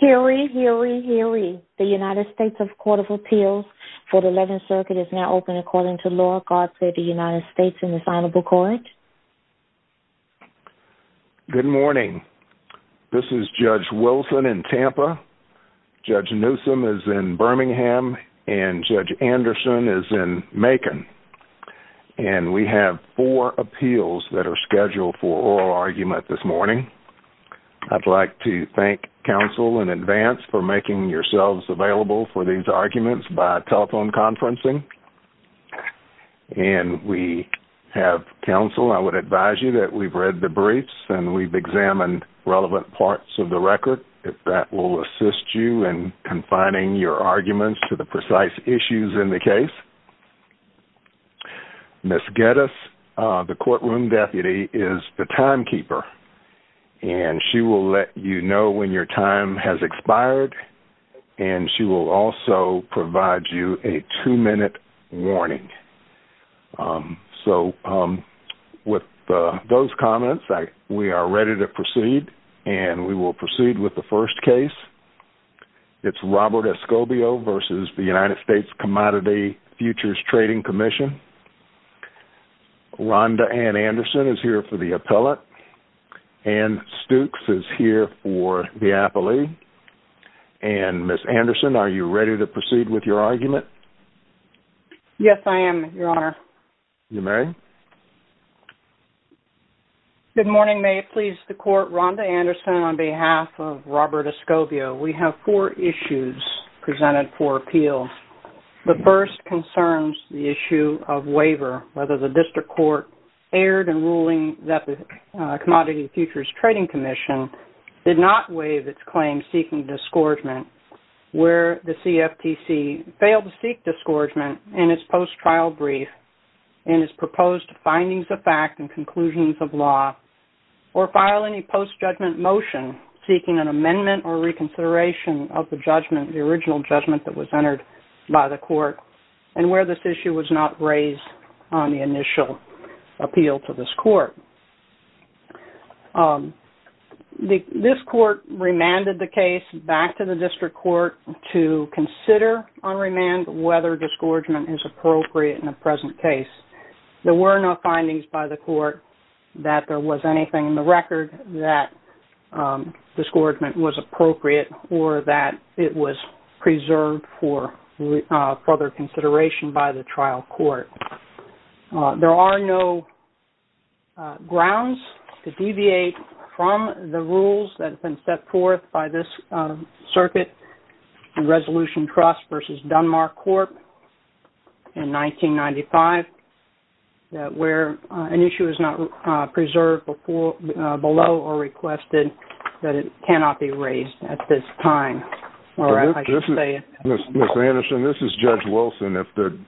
Hear ye, hear ye, hear ye. The United States Court of Appeals for the 11th Circuit is now open according to law. God save the United States and His Honorable Court. Good morning. This is Judge Wilson in Tampa, Judge Newsom is in Birmingham, and Judge Anderson is in Macon. And we have four appeals that are scheduled for oral argument this morning. I'd like to thank counsel in advance for making yourselves available for these arguments by telephone conferencing. And we have counsel, I would advise you that we've read the briefs and we've examined relevant parts of the record. If that will assist you in confining your arguments to the precise issues in the case. Ms. Geddes, the courtroom deputy, is the timekeeper. And she will let you know when your time has expired. And she will also provide you a two-minute warning. So, with those comments, we are ready to proceed. And we will proceed with the first case. It's Robert Escobio versus the United States Commodity Futures Trading Commission. Rhonda Ann Anderson is here for the appellate. Ann Stooks is here for the appellee. And, Ms. Anderson, are you ready to proceed with your argument? Yes, I am, Your Honor. You may. Good morning. Good morning. May it please the Court, Rhonda Anderson on behalf of Robert Escobio. We have four issues presented for appeals. The first concerns the issue of waiver, whether the district court erred in ruling that the Commodity Futures Trading Commission did not waive its claim seeking disgorgement, where the CFTC failed to seek disgorgement in its post-trial brief and its proposed findings of fact and conclusions of law, or file any post-judgment motion seeking an amendment or reconsideration of the judgment, the original judgment that was entered by the court, and where this issue was not raised on the initial appeal to this court. This court remanded the case back to the district court to consider on remand whether disgorgement is appropriate in the present case. There were no findings by the court that there was anything in the record that disgorgement was appropriate or that it was preserved for further consideration by the trial court. There are no grounds to deviate from the rules that have been set forth by this circuit in Resolution Trust v. Dunmar Court in 1995, where an issue is not preserved below or requested that it cannot be raised at this time. Ms. Anderson, this is Judge Wilson. If the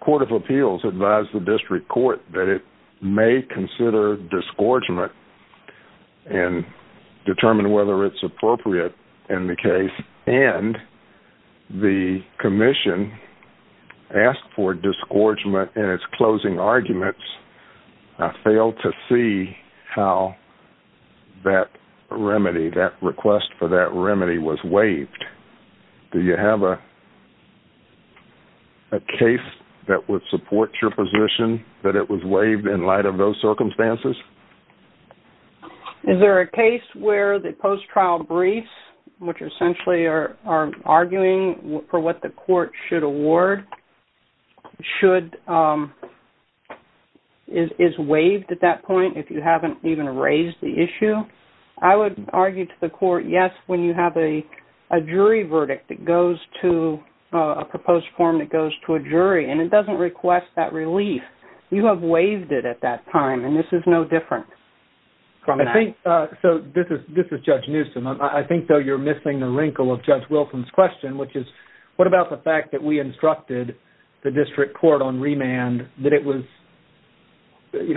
court of appeals advised the district court that it may consider disgorgement and determine whether it's appropriate in the case, and the commission asked for disgorgement in its closing arguments, I fail to see how that remedy, that request for that remedy, was waived. Do you have a case that would support your position that it was waived in light of those circumstances? Is there a case where the post-trial briefs, which essentially are arguing for what the court should award, is waived at that point if you haven't even raised the issue? I would argue to the court, yes, when you have a jury verdict that goes to a proposed form that goes to a jury, and it doesn't request that relief, you have waived it at that time, and this is no different from that. This is Judge Newsom. I think, though, you're missing the wrinkle of Judge Wilson's question, which is what about the fact that we instructed the district court on remand that it was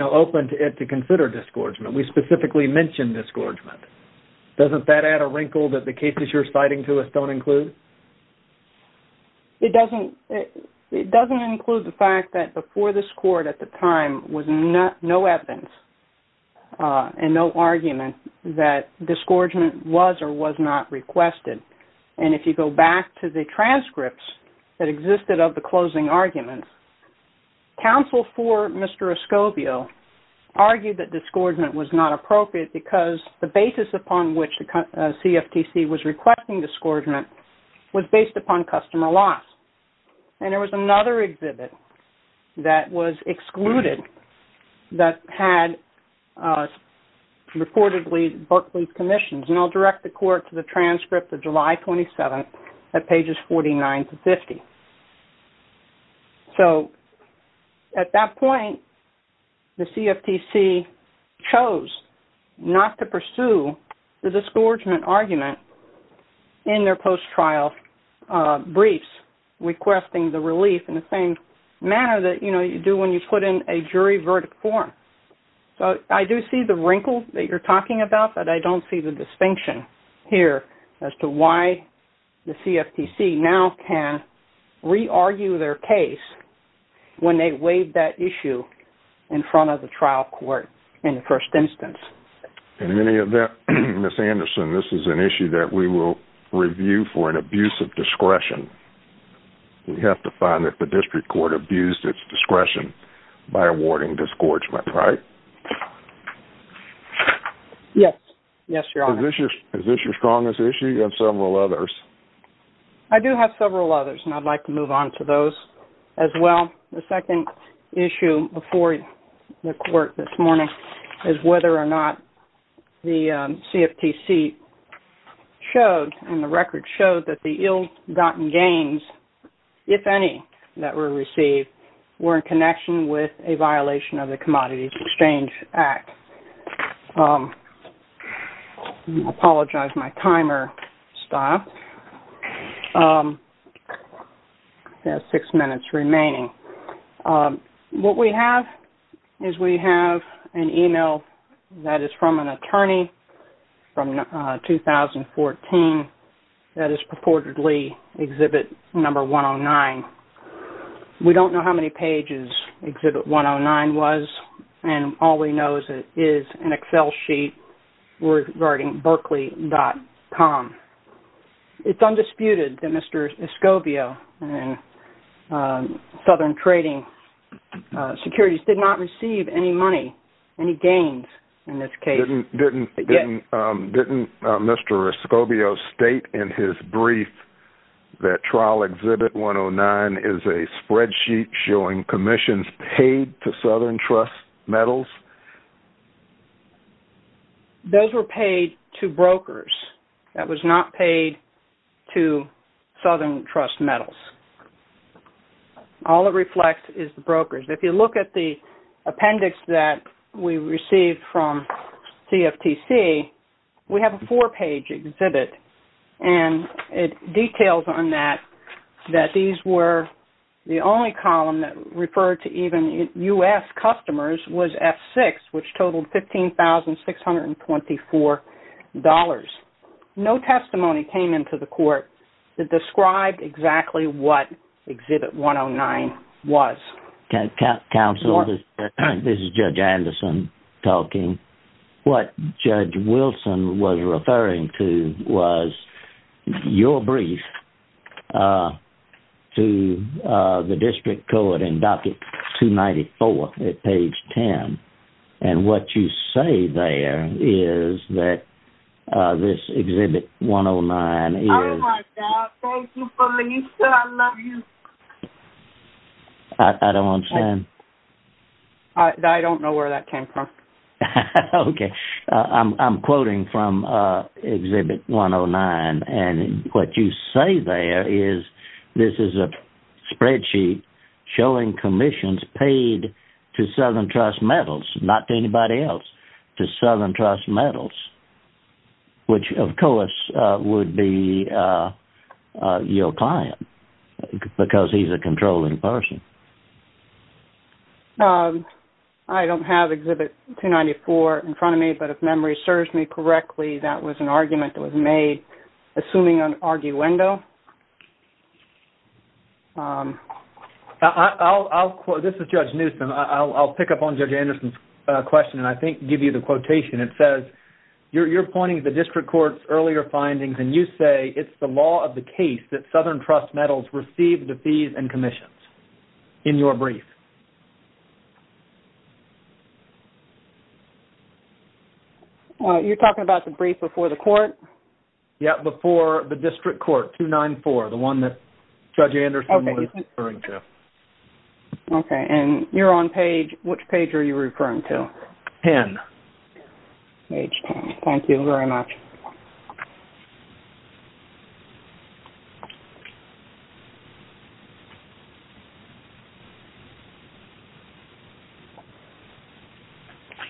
open to consider disgorgement? We specifically mentioned disgorgement. Doesn't that add a wrinkle that the cases you're citing to us don't include? It doesn't include the fact that before this court at the time was no evidence and no argument that disgorgement was or was not requested. And if you go back to the transcripts that existed of the closing arguments, counsel for Mr. Escobio argued that disgorgement was not appropriate because the basis upon which the CFTC was requesting disgorgement was based upon customer loss. And there was another exhibit that was excluded that had reportedly Berkeley's commissions, and I'll direct the court to the transcript of July 27th at pages 49 to 50. So at that point, the CFTC chose not to pursue the disgorgement argument in their post-trial briefs, requesting the relief in the same manner that you do when you put in a jury verdict form. So I do see the wrinkle that you're talking about, but I don't see the distinction here as to why the CFTC now can re-argue their case when they waive that issue in front of the trial court in the first instance. In any event, Ms. Anderson, this is an issue that we will review for an abuse of discretion. We have to find that the district court abused its discretion by awarding disgorgement, right? Yes, Your Honor. Is this your strongest issue? You have several others. I do have several others, and I'd like to move on to those as well. The second issue before the court this morning is whether or not the CFTC showed and the record showed that the ill-gotten gains, if any, that were received were in connection with a violation of the Commodities Exchange Act. I apologize, my timer stopped. We have six minutes remaining. What we have is we have an email that is from an attorney from 2014 that is purportedly Exhibit 109. We don't know how many pages Exhibit 109 was, and all we know is it is an Excel sheet regarding berkeley.com. It's undisputed that Mr. Escobio and Southern Trading Securities did not receive any money, any gains in this case. Didn't Mr. Escobio state in his brief that Trial Exhibit 109 is a spreadsheet showing commissions paid to Southern Trust Metals? Those were paid to brokers. That was not paid to Southern Trust Metals. All it reflects is the brokers. If you look at the appendix that we received from CFTC, we have a four-page exhibit, and it details on that that these were the only column that referred to even U.S. customers was F6, which totaled $15,624. No testimony came into the court that described exactly what Exhibit 109 was. Counsel, this is Judge Anderson talking. What Judge Wilson was referring to was your brief to the district court in Docket 294 at page 10, and what you say there is that this Exhibit 109 is... Oh, my God. Thank you, Felicia. I love you. I don't understand. I don't know where that came from. Okay. I'm quoting from Exhibit 109, and what you say there is this is a spreadsheet showing commissions paid to Southern Trust Metals, not to anybody else, to Southern Trust Metals, which, of course, would be your client because he's a controlling person. I don't have Exhibit 294 in front of me, but if memory serves me correctly, that was an argument that was made assuming an arguendo. This is Judge Newsom. I'll pick up on Judge Anderson's question and I think give you the quotation. It says you're pointing to the district court's earlier findings, and you say it's the law of the case that Southern Trust Metals received the fees and commissions in your brief. You're talking about the brief before the court? Yes, before the district court, 294, the one that Judge Anderson was referring to. Okay, and you're on page... Which page are you referring to? 10. Page 10. Thank you very much. Thank you.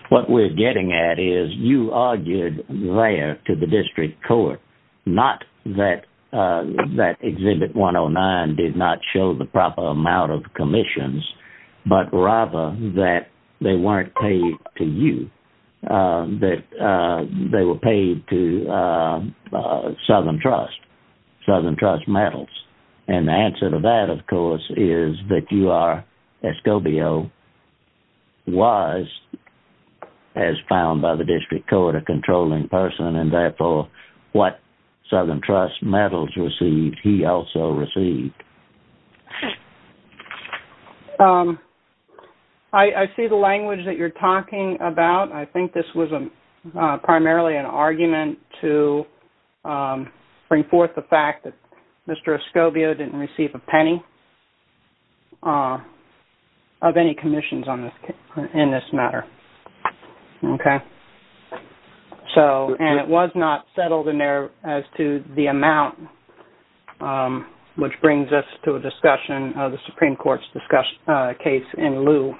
What we're getting at is you argued there to the district court not that Exhibit 109 did not show the proper amount of commissions, but rather that they weren't paid to you, that they were paid to Southern Trust, Southern Trust Metals. And the answer to that, of course, is that you are, Escobio was, as found by the district court, a controlling person, and therefore what Southern Trust Metals received, he also received. I see the language that you're talking about. I think this was primarily an argument to bring forth the fact that Mr. Escobio didn't receive a penny of any commissions in this matter. And it was not settled in there as to the amount, which brings us to a discussion of the Supreme Court's case in lieu.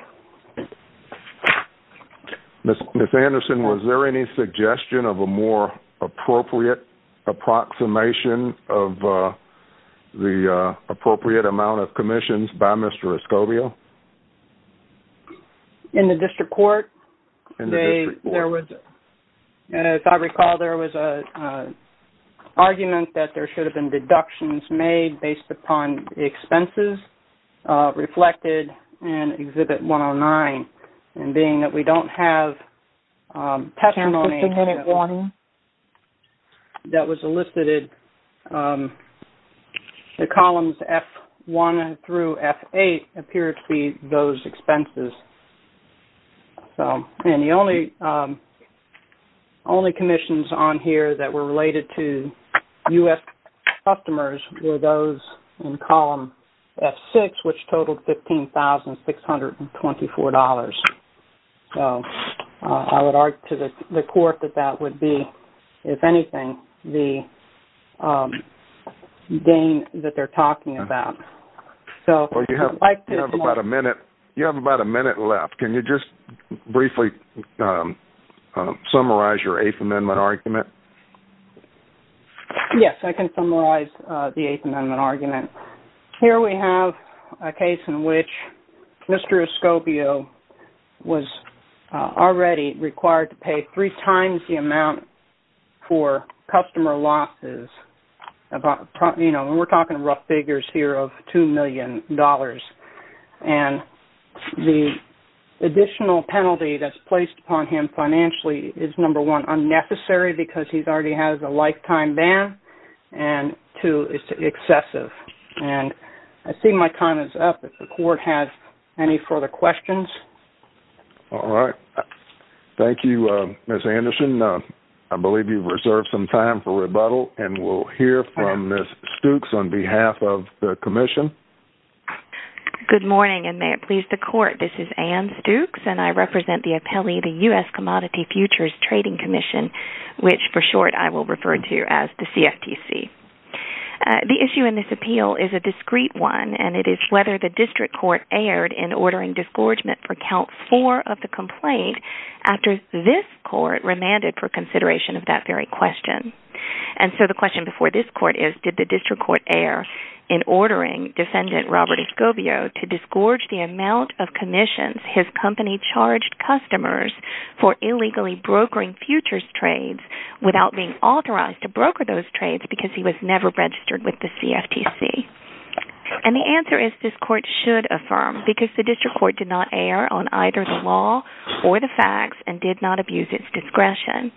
Ms. Anderson, was there any suggestion of a more appropriate approximation of the appropriate amount of commissions by Mr. Escobio? In the district court? In the district court. As I recall, there was an argument that there should have been deductions made based upon expenses reflected in Exhibit 109, and being that we don't have testimony that was elicited, the columns F1 through F8 appear to be those expenses. And the only commissions on here that were related to U.S. customers were those in column F6, which totaled $15,624. I would argue to the court that that would be, if anything, the gain that they're talking about. Well, you have about a minute left. Can you just briefly summarize your Eighth Amendment argument? Yes, I can summarize the Eighth Amendment argument. Here we have a case in which Mr. Escobio was already required to pay three times the amount for customer losses. We're talking rough figures here of $2 million. And the additional penalty that's placed upon him financially is, number one, unnecessary because he already has a lifetime ban, and two, it's excessive. And I see my time is up. If the court has any further questions? All right. Thank you, Ms. Anderson. I believe you've reserved some time for rebuttal, and we'll hear from Ms. Stukes on behalf of the commission. Good morning, and may it please the court. This is Anne Stukes, and I represent the appellee, the U.S. Commodity Futures Trading Commission, which, for short, I will refer to as the CFTC. The issue in this appeal is a discrete one, and it is whether the district court erred in ordering disgorgement for count four of the complaint after this court remanded for consideration of that very question. And so the question before this court is, did the district court err in ordering Defendant Robert Escobio to disgorge the amount of commissions his company charged customers for illegally brokering futures trades without being authorized to broker those trades because he was never registered with the CFTC? And the answer is this court should affirm because the district court did not err on either the law or the facts and did not abuse its discretion.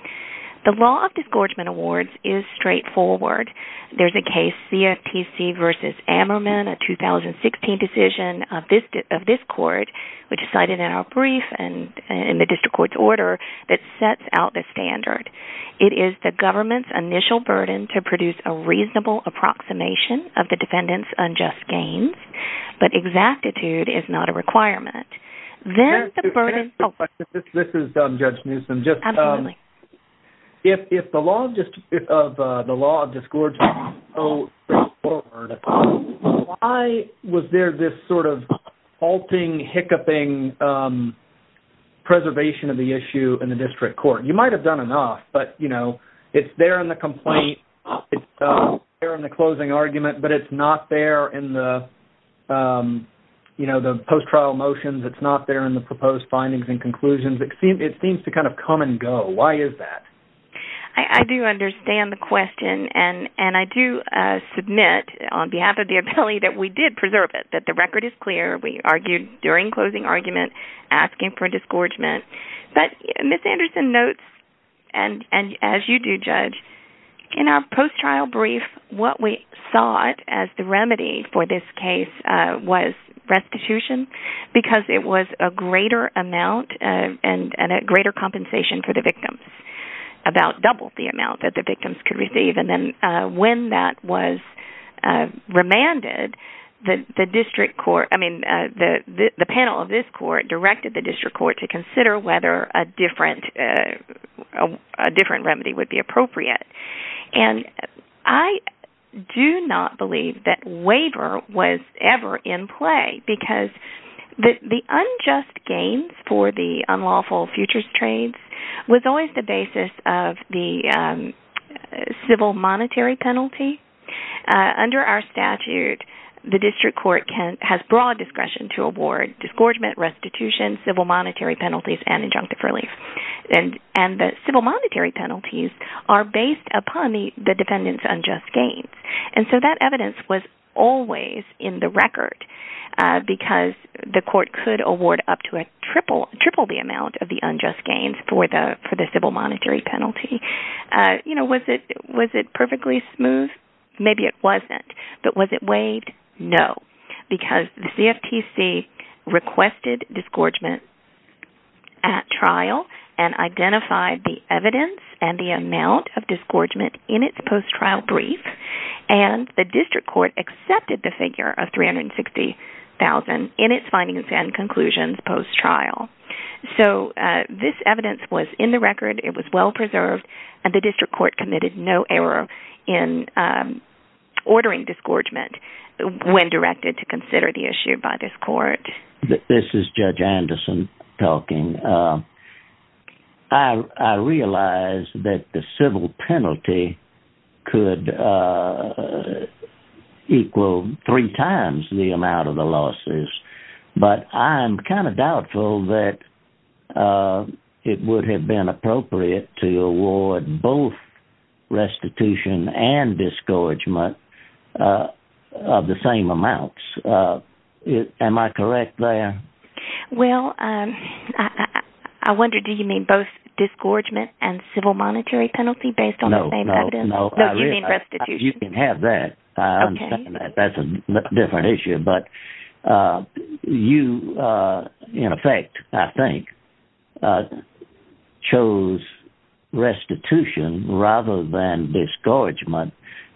The law of disgorgement awards is straightforward. There's a case, CFTC v. Ammerman, a 2016 decision of this court, which is cited in our brief and in the district court's order, that sets out the standard. It is the government's initial burden to produce a reasonable approximation of the defendant's unjust gains, but exactitude is not a requirement. This is Judge Newsom. Absolutely. If the law of disgorgement is so straightforward, why was there this sort of halting, hiccupping preservation of the issue in the district court? You might have done enough, but, you know, it's there in the complaint, it's there in the closing argument, but it's not there in the post-trial motions, it's not there in the proposed findings and conclusions. It seems to kind of come and go. Why is that? I do understand the question, and I do submit on behalf of the attorney that we did preserve it, that the record is clear. We argued during closing argument asking for a disgorgement. But Ms. Anderson notes, and as you do, Judge, in our post-trial brief, what we sought as the remedy for this case was restitution because it was a greater amount and a greater compensation for the victims, about double the amount that the victims could receive. And then when that was remanded, the district court, I mean, the panel of this court directed the district court to consider whether a different remedy would be appropriate. And I do not believe that waiver was ever in play because the unjust gains for the unlawful futures trades was always the basis of the civil monetary penalty. Under our statute, the district court has broad discretion to award disgorgement, restitution, civil monetary penalties, and injunctive relief. And the civil monetary penalties are based upon the defendant's unjust gains. And so that evidence was always in the record because the court could award up to triple the amount of the unjust gains for the civil monetary penalty. Was it perfectly smooth? Maybe it wasn't. But was it waived? No, because the CFTC requested disgorgement at trial and identified the evidence and the amount of disgorgement in its post-trial brief. And the district court accepted the figure of $360,000 in its findings and conclusions post-trial. So this evidence was in the record. It was well-preserved. And the district court committed no error in ordering disgorgement when directed to consider the issue by this court. This is Judge Anderson talking. I realize that the civil penalty could equal three times the amount of the losses, but I'm kind of doubtful that it would have been appropriate to award both restitution and disgorgement of the same amounts. Am I correct there? Well, I wonder, do you mean both disgorgement and civil monetary penalty based on the same evidence? No, no, no. No, you mean restitution. You can have that. I understand that. That's a different issue. But you, in effect, I think, chose restitution rather than disgorgement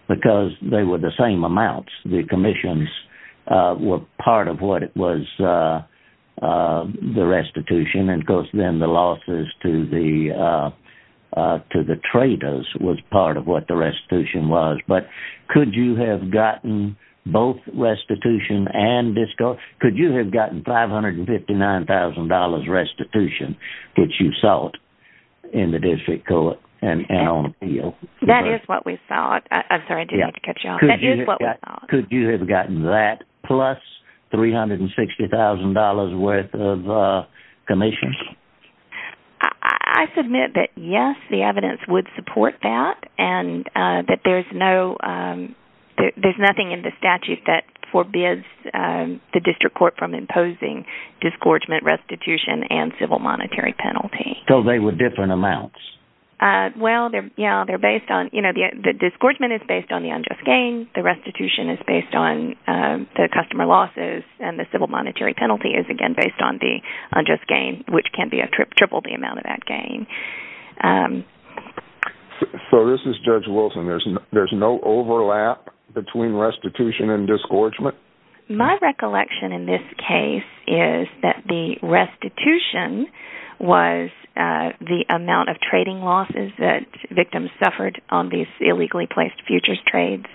because they were the same amounts. The commissions were part of what was the restitution, and of course then the losses to the traders was part of what the restitution was. But could you have gotten both restitution and disgorgement? Could you have gotten $559,000 restitution that you sought in the district court? That is what we sought. I'm sorry, I didn't mean to cut you off. That is what we sought. Could you have gotten that plus $360,000 worth of commissions? I submit that, yes, the evidence would support that, and that there's nothing in the statute that forbids the district court from imposing disgorgement, restitution, and civil monetary penalty. So they were different amounts. Well, the disgorgement is based on the unjust gain. The restitution is based on the customer losses, and the civil monetary penalty is, again, based on the unjust gain, which can triple the amount of that gain. So this is Judge Wilson. There's no overlap between restitution and disgorgement? My recollection in this case is that the restitution was the amount of trading losses that victims suffered on these illegally placed futures trades.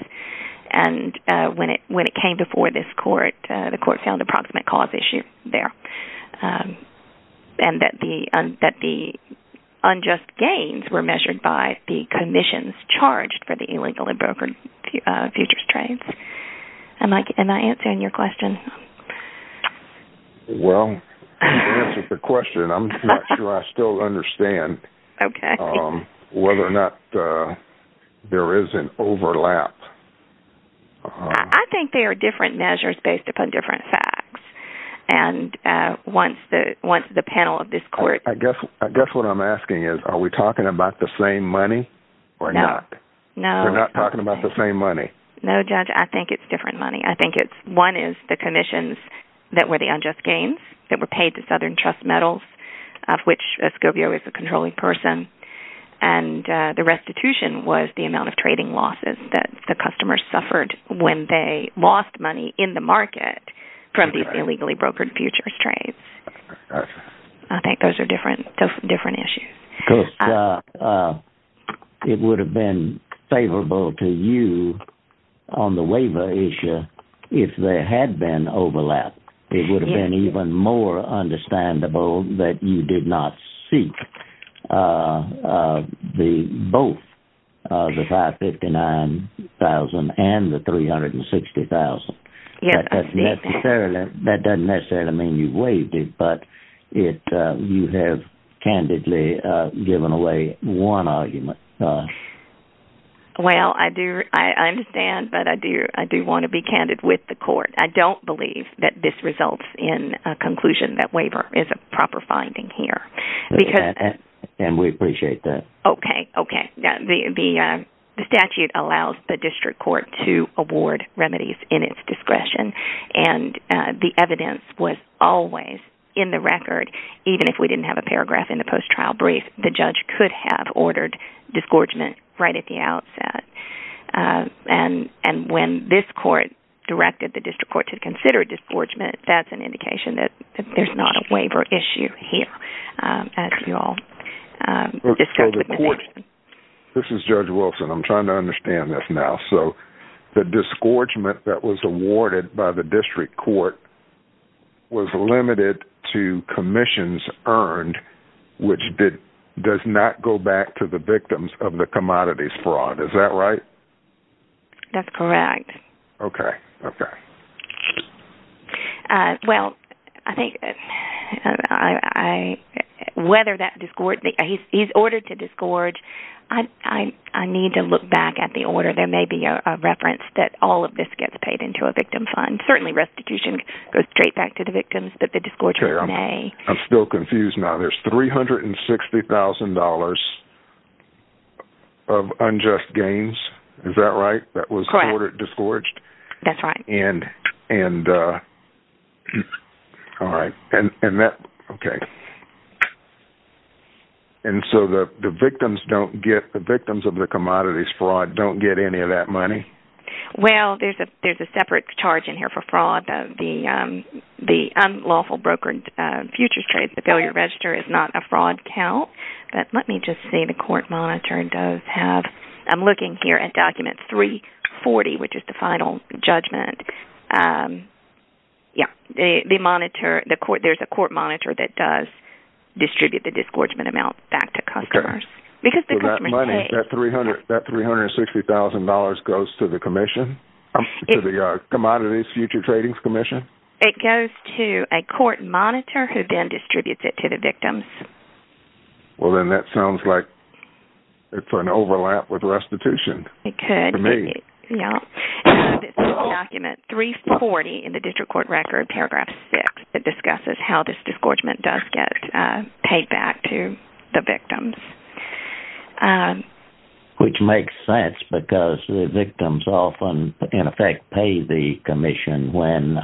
And when it came before this court, the court found approximate cause issue there, and that the unjust gains were measured by the commissions charged for the illegally brokered futures trades. Am I answering your question? Well, you answered the question. I'm not sure I still understand whether or not there is an overlap. I think they are different measures based upon different facts. And once the panel of this court ---- I guess what I'm asking is, are we talking about the same money or not? No. We're not talking about the same money? No, Judge, I think it's different money. I think one is the commissions that were the unjust gains that were paid to Southern Trust Metals, of which Escobio is a controlling person. And the restitution was the amount of trading losses that the customers suffered when they lost money in the market from these illegally brokered futures trades. I think those are different issues. Because it would have been favorable to you on the waiver issue if there had been overlap. It would have been even more understandable that you did not seek both the $559,000 and the $360,000. That doesn't necessarily mean you waived it, but you have candidly given away one argument. Well, I understand, but I do want to be candid with the court. I don't believe that this results in a conclusion that waiver is a proper finding here. And we appreciate that. Okay, okay. The statute allows the district court to award remedies in its discretion, and the evidence was always in the record. Even if we didn't have a paragraph in the post-trial brief, the judge could have ordered disgorgement right at the outset. And when this court directed the district court to consider disgorgement, that's an indication that there's not a waiver issue here, as you all discussed. This is Judge Wilson. I'm trying to understand this now. So the disgorgement that was awarded by the district court was limited to commissions earned, which does not go back to the victims of the commodities fraud. Is that right? That's correct. Okay, okay. Well, I think whether that disgorgement he's ordered to disgorge, I need to look back at the order. There may be a reference that all of this gets paid into a victim fund. Certainly restitution goes straight back to the victims, but the disgorgement may. I'm still confused now. There's $360,000 of unjust gains. Is that right? Correct. That was ordered disgorged? That's right. And so the victims of the commodities fraud don't get any of that money? Well, there's a separate charge in here for fraud. The unlawful brokered futures trade, the failure register, is not a fraud count. But let me just say the court monitor does have – I'm looking here at document 340, which is the final judgment. Yeah, there's a court monitor that does distribute the disgorgement amount back to customers. So that money, that $360,000 goes to the commission, to the Commodities Future Tradings Commission? It goes to a court monitor who then distributes it to the victims. Well, then that sounds like it's an overlap with restitution. It could. For me. Yeah. This is document 340 in the district court record, paragraph 6, that discusses how this disgorgement does get paid back to the victims. Which makes sense because the victims often, in effect, pay the commission when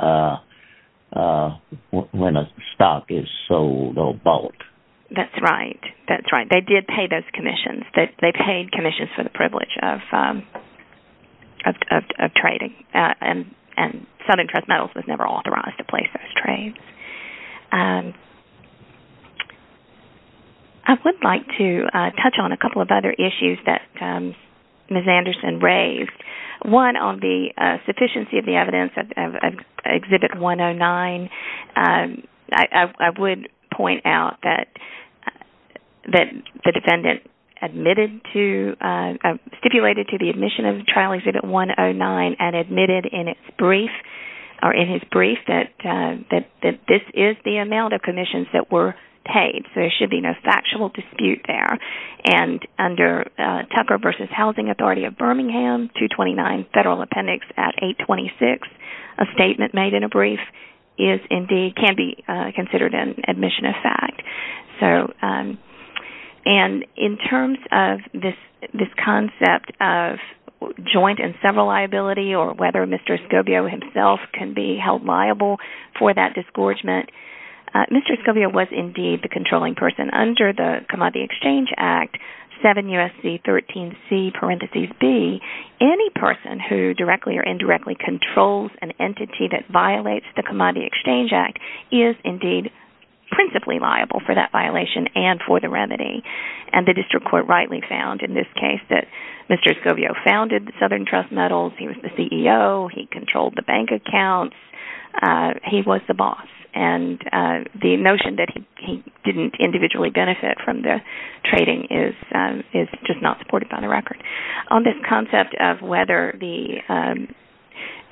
a stock is sold or bought. That's right. That's right. They did pay those commissions. They paid commissions for the privilege of trading. And Southern Trust Metals was never authorized to place those trades. I would like to touch on a couple of other issues that Ms. Anderson raised. One, on the sufficiency of the evidence, Exhibit 109. I would point out that the defendant stipulated to the admission of the trial Exhibit 109 and admitted in his brief that this is the amount of commissions that were paid. So there should be no factual dispute there. And under Tucker v. Housing Authority of Birmingham, 229 Federal Appendix at 826, a statement made in a brief can be considered an admission of fact. And in terms of this concept of joint and several liability or whether Mr. Escobio himself can be held liable for that disgorgement, Mr. Escobio was indeed the controlling person. And under the Commodity Exchange Act, 7 U.S.C. 13 C parentheses B, any person who directly or indirectly controls an entity that violates the Commodity Exchange Act is indeed principally liable for that violation and for the remedy. And the district court rightly found in this case that Mr. Escobio founded Southern Trust Metals. He was the CEO. He controlled the bank accounts. He was the boss. And the notion that he didn't individually benefit from the trading is just not supported by the record. On this concept of whether the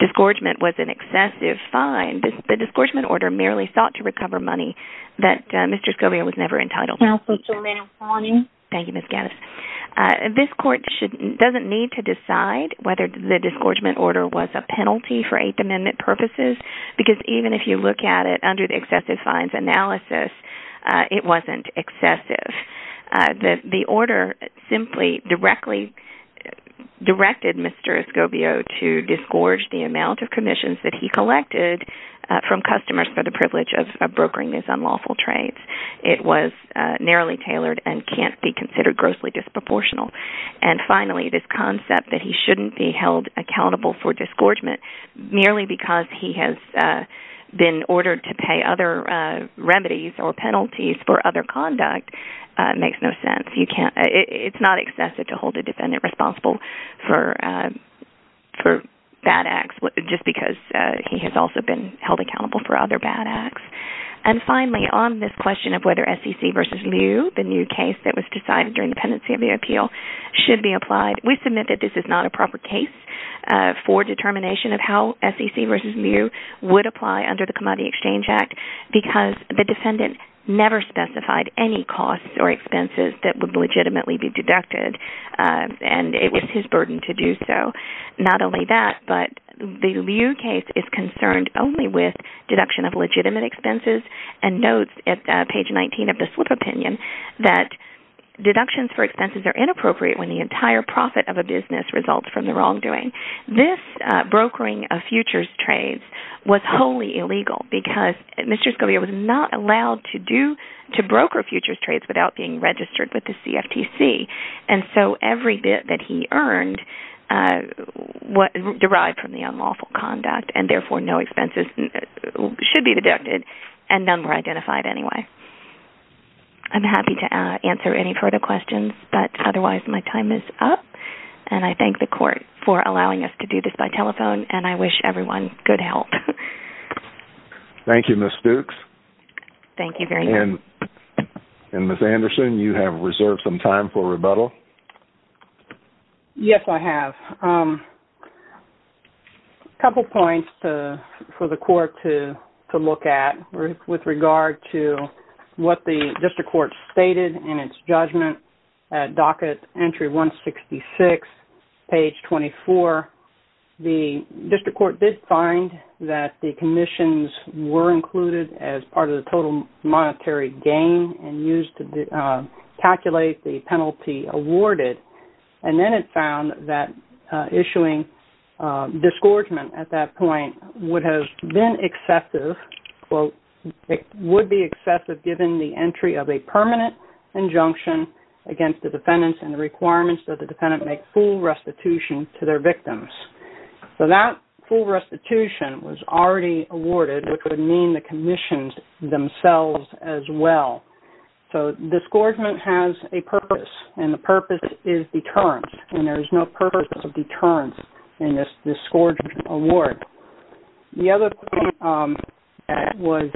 disgorgement was an excessive fine, the disgorgement order merely sought to recover money that Mr. Escobio was never entitled to. Counsel, Jermaine, I'm calling you. Thank you, Ms. Gannis. This court doesn't need to decide whether the disgorgement order was a penalty for Eighth Amendment purposes because even if you look at it under the excessive fines analysis, it wasn't excessive. The order simply directly directed Mr. Escobio to disgorge the amount of commissions that he collected from customers for the privilege of brokering these unlawful trades. It was narrowly tailored and can't be considered grossly disproportional. And finally, this concept that he shouldn't be held accountable for disgorgement merely because he has been ordered to pay other remedies or penalties for other conduct makes no sense. It's not excessive to hold a defendant responsible for bad acts just because he has also been held accountable for other bad acts. And finally, on this question of whether SEC v. Liu, the new case that was decided during the pendency of the appeal, should be applied, we submit that this is not a proper case for determination of how SEC v. Liu would apply under the Commodity Exchange Act because the defendant never specified any costs or expenses that would legitimately be deducted and it was his burden to do so. Not only that, but the Liu case is concerned only with deduction of legitimate expenses and notes at page 19 of the slip opinion that deductions for expenses are inappropriate when the entire profit of a business results from the wrongdoing. This brokering of futures trades was wholly illegal because Mr. Scalia was not allowed to broker futures trades without being registered with the CFTC and so every bit that he earned was derived from the unlawful conduct and therefore no expenses should be deducted and none were identified anyway. I'm happy to answer any further questions, but otherwise my time is up and I thank the court for allowing us to do this by telephone and I wish everyone good health. Thank you, Ms. Fuchs. Thank you very much. And Ms. Anderson, you have reserved some time for rebuttal. Yes, I have. A couple points for the court to look at with regard to what the district court stated in its judgment at docket entry 166, page 24. The district court did find that the commissions were included as part of the total monetary gain and used to calculate the penalty awarded. And then it found that issuing disgorgement at that point would be excessive given the entry of a permanent injunction against the defendants and the requirements that the defendant make full restitution to their victims. So that full restitution was already awarded, which would mean the commissions themselves as well. So disgorgement has a purpose and the purpose is deterrence and there is no purpose of deterrence in this disgorgement award. The other point that was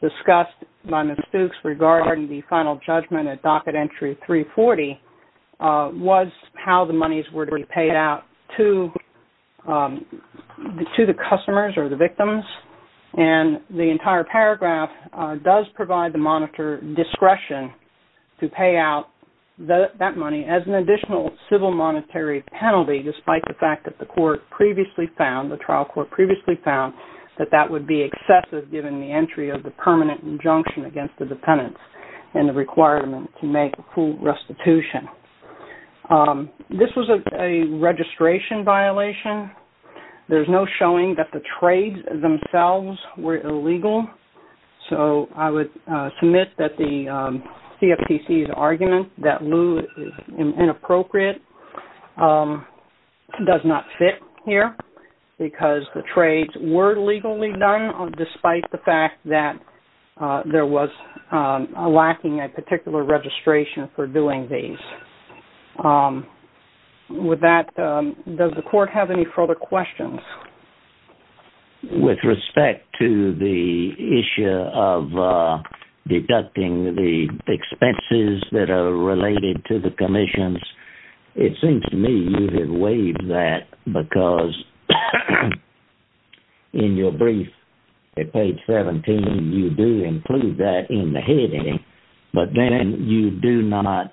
discussed by Ms. Fuchs regarding the final judgment at docket entry 340 was how the monies were to be paid out to the customers or the victims. And the entire paragraph does provide the monitor discretion to pay out that money as an additional civil monetary penalty despite the fact that the trial court previously found that that would be excessive given the entry of the permanent injunction against the defendants and the requirement to make full restitution. This was a registration violation. There is no showing that the trades themselves were illegal. So I would submit that the CFTC's argument that lieu is inappropriate does not fit here because the trades were legally done despite the fact that there was lacking a particular registration for doing these. With that, does the court have any further questions? With respect to the issue of deducting the expenses that are related to the commissions, it seems to me you have waived that because in your brief at page 17, you do include that in the heading, but then you do not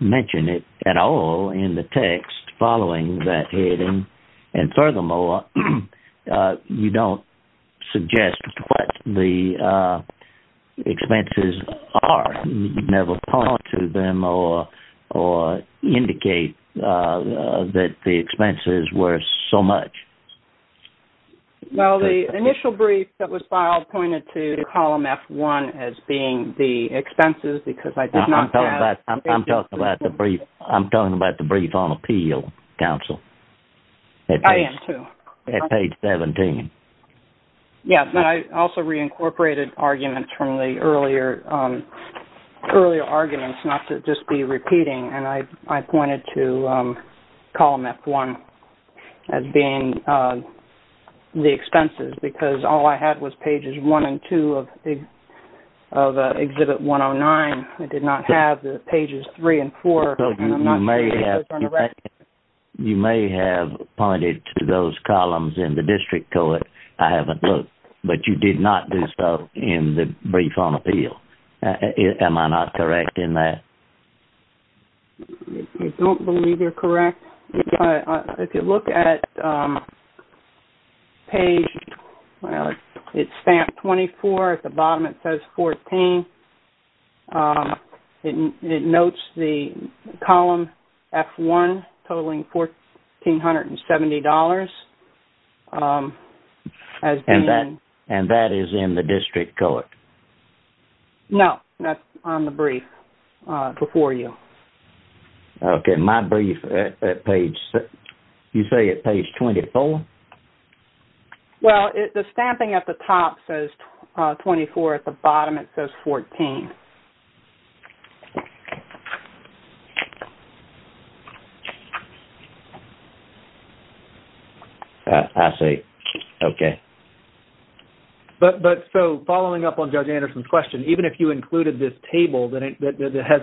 mention it at all in the text following that heading. And furthermore, you don't suggest what the expenses are. You never point to them or indicate that the expenses were so much. Well, the initial brief that was filed pointed to column F1 as being the expenses because I did not have... I'm talking about the brief on appeal, counsel. I am too. At page 17. Yes, but I also reincorporated arguments from the earlier arguments not to just be repeating, and I pointed to column F1 as being the expenses because all I had was pages 1 and 2 of exhibit 109. I did not have pages 3 and 4. Counsel, you may have pointed to those columns in the district court. I haven't looked, but you did not do so in the brief on appeal. Am I not correct in that? I don't believe you're correct. If you look at page...it's stamped 24, at the bottom it says 14. It notes the column F1 totaling $1,470 as being... And that is in the district court? No, that's on the brief before you. Okay, my brief at page...you say at page 24? Well, the stamping at the top says 24, at the bottom it says 14. I see. Okay. But so, following up on Judge Anderson's question, even if you included this table that has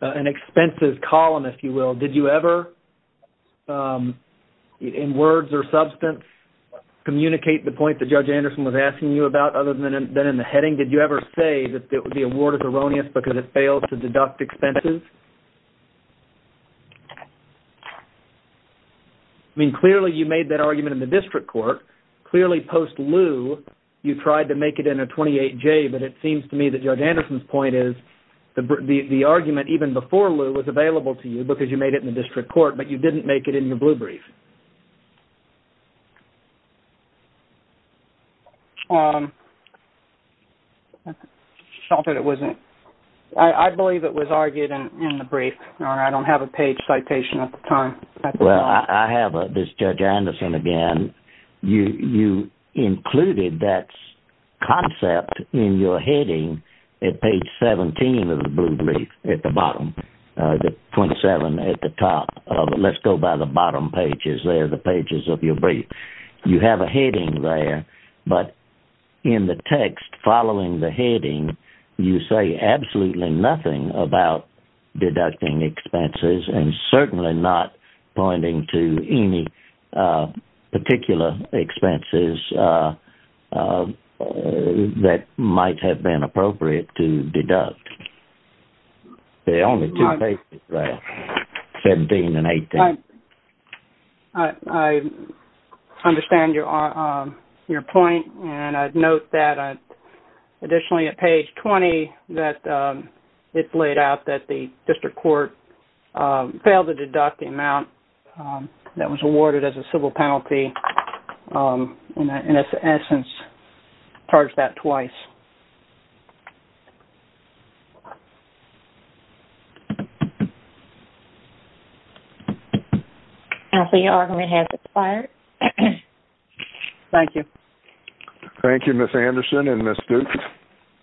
an expenses column, if you will, did you ever, in words or substance, communicate the point that Judge Anderson was asking you about other than in the heading? Did you ever say that the award is erroneous because it fails to deduct expenses? I mean, clearly you made that argument in the district court. Clearly, post-lieu, you tried to make it in a 28-J, but it seems to me that Judge Anderson's point is the argument even before lieu was available to you because you made it in the district court, but you didn't make it in your blue brief. I believe it was argued in the brief. I don't have a page citation at the time. Well, I have this, Judge Anderson, again. You included that concept in your heading at page 17 of the blue brief at the bottom, the 27 at the top. Let's go by the bottom page. You have a heading there, but in the text following the heading, you say absolutely nothing about deducting expenses and certainly not pointing to any particular expenses that might have been appropriate to deduct. There are only two pages there, 17 and 18. I understand your point, and I'd note that additionally at page 20 that it's laid out that the district court failed to deduct the amount that was awarded as a civil penalty, and in essence, charged that twice. I see your argument has expired. Thank you. Thank you, Ms. Anderson and Ms. Duke.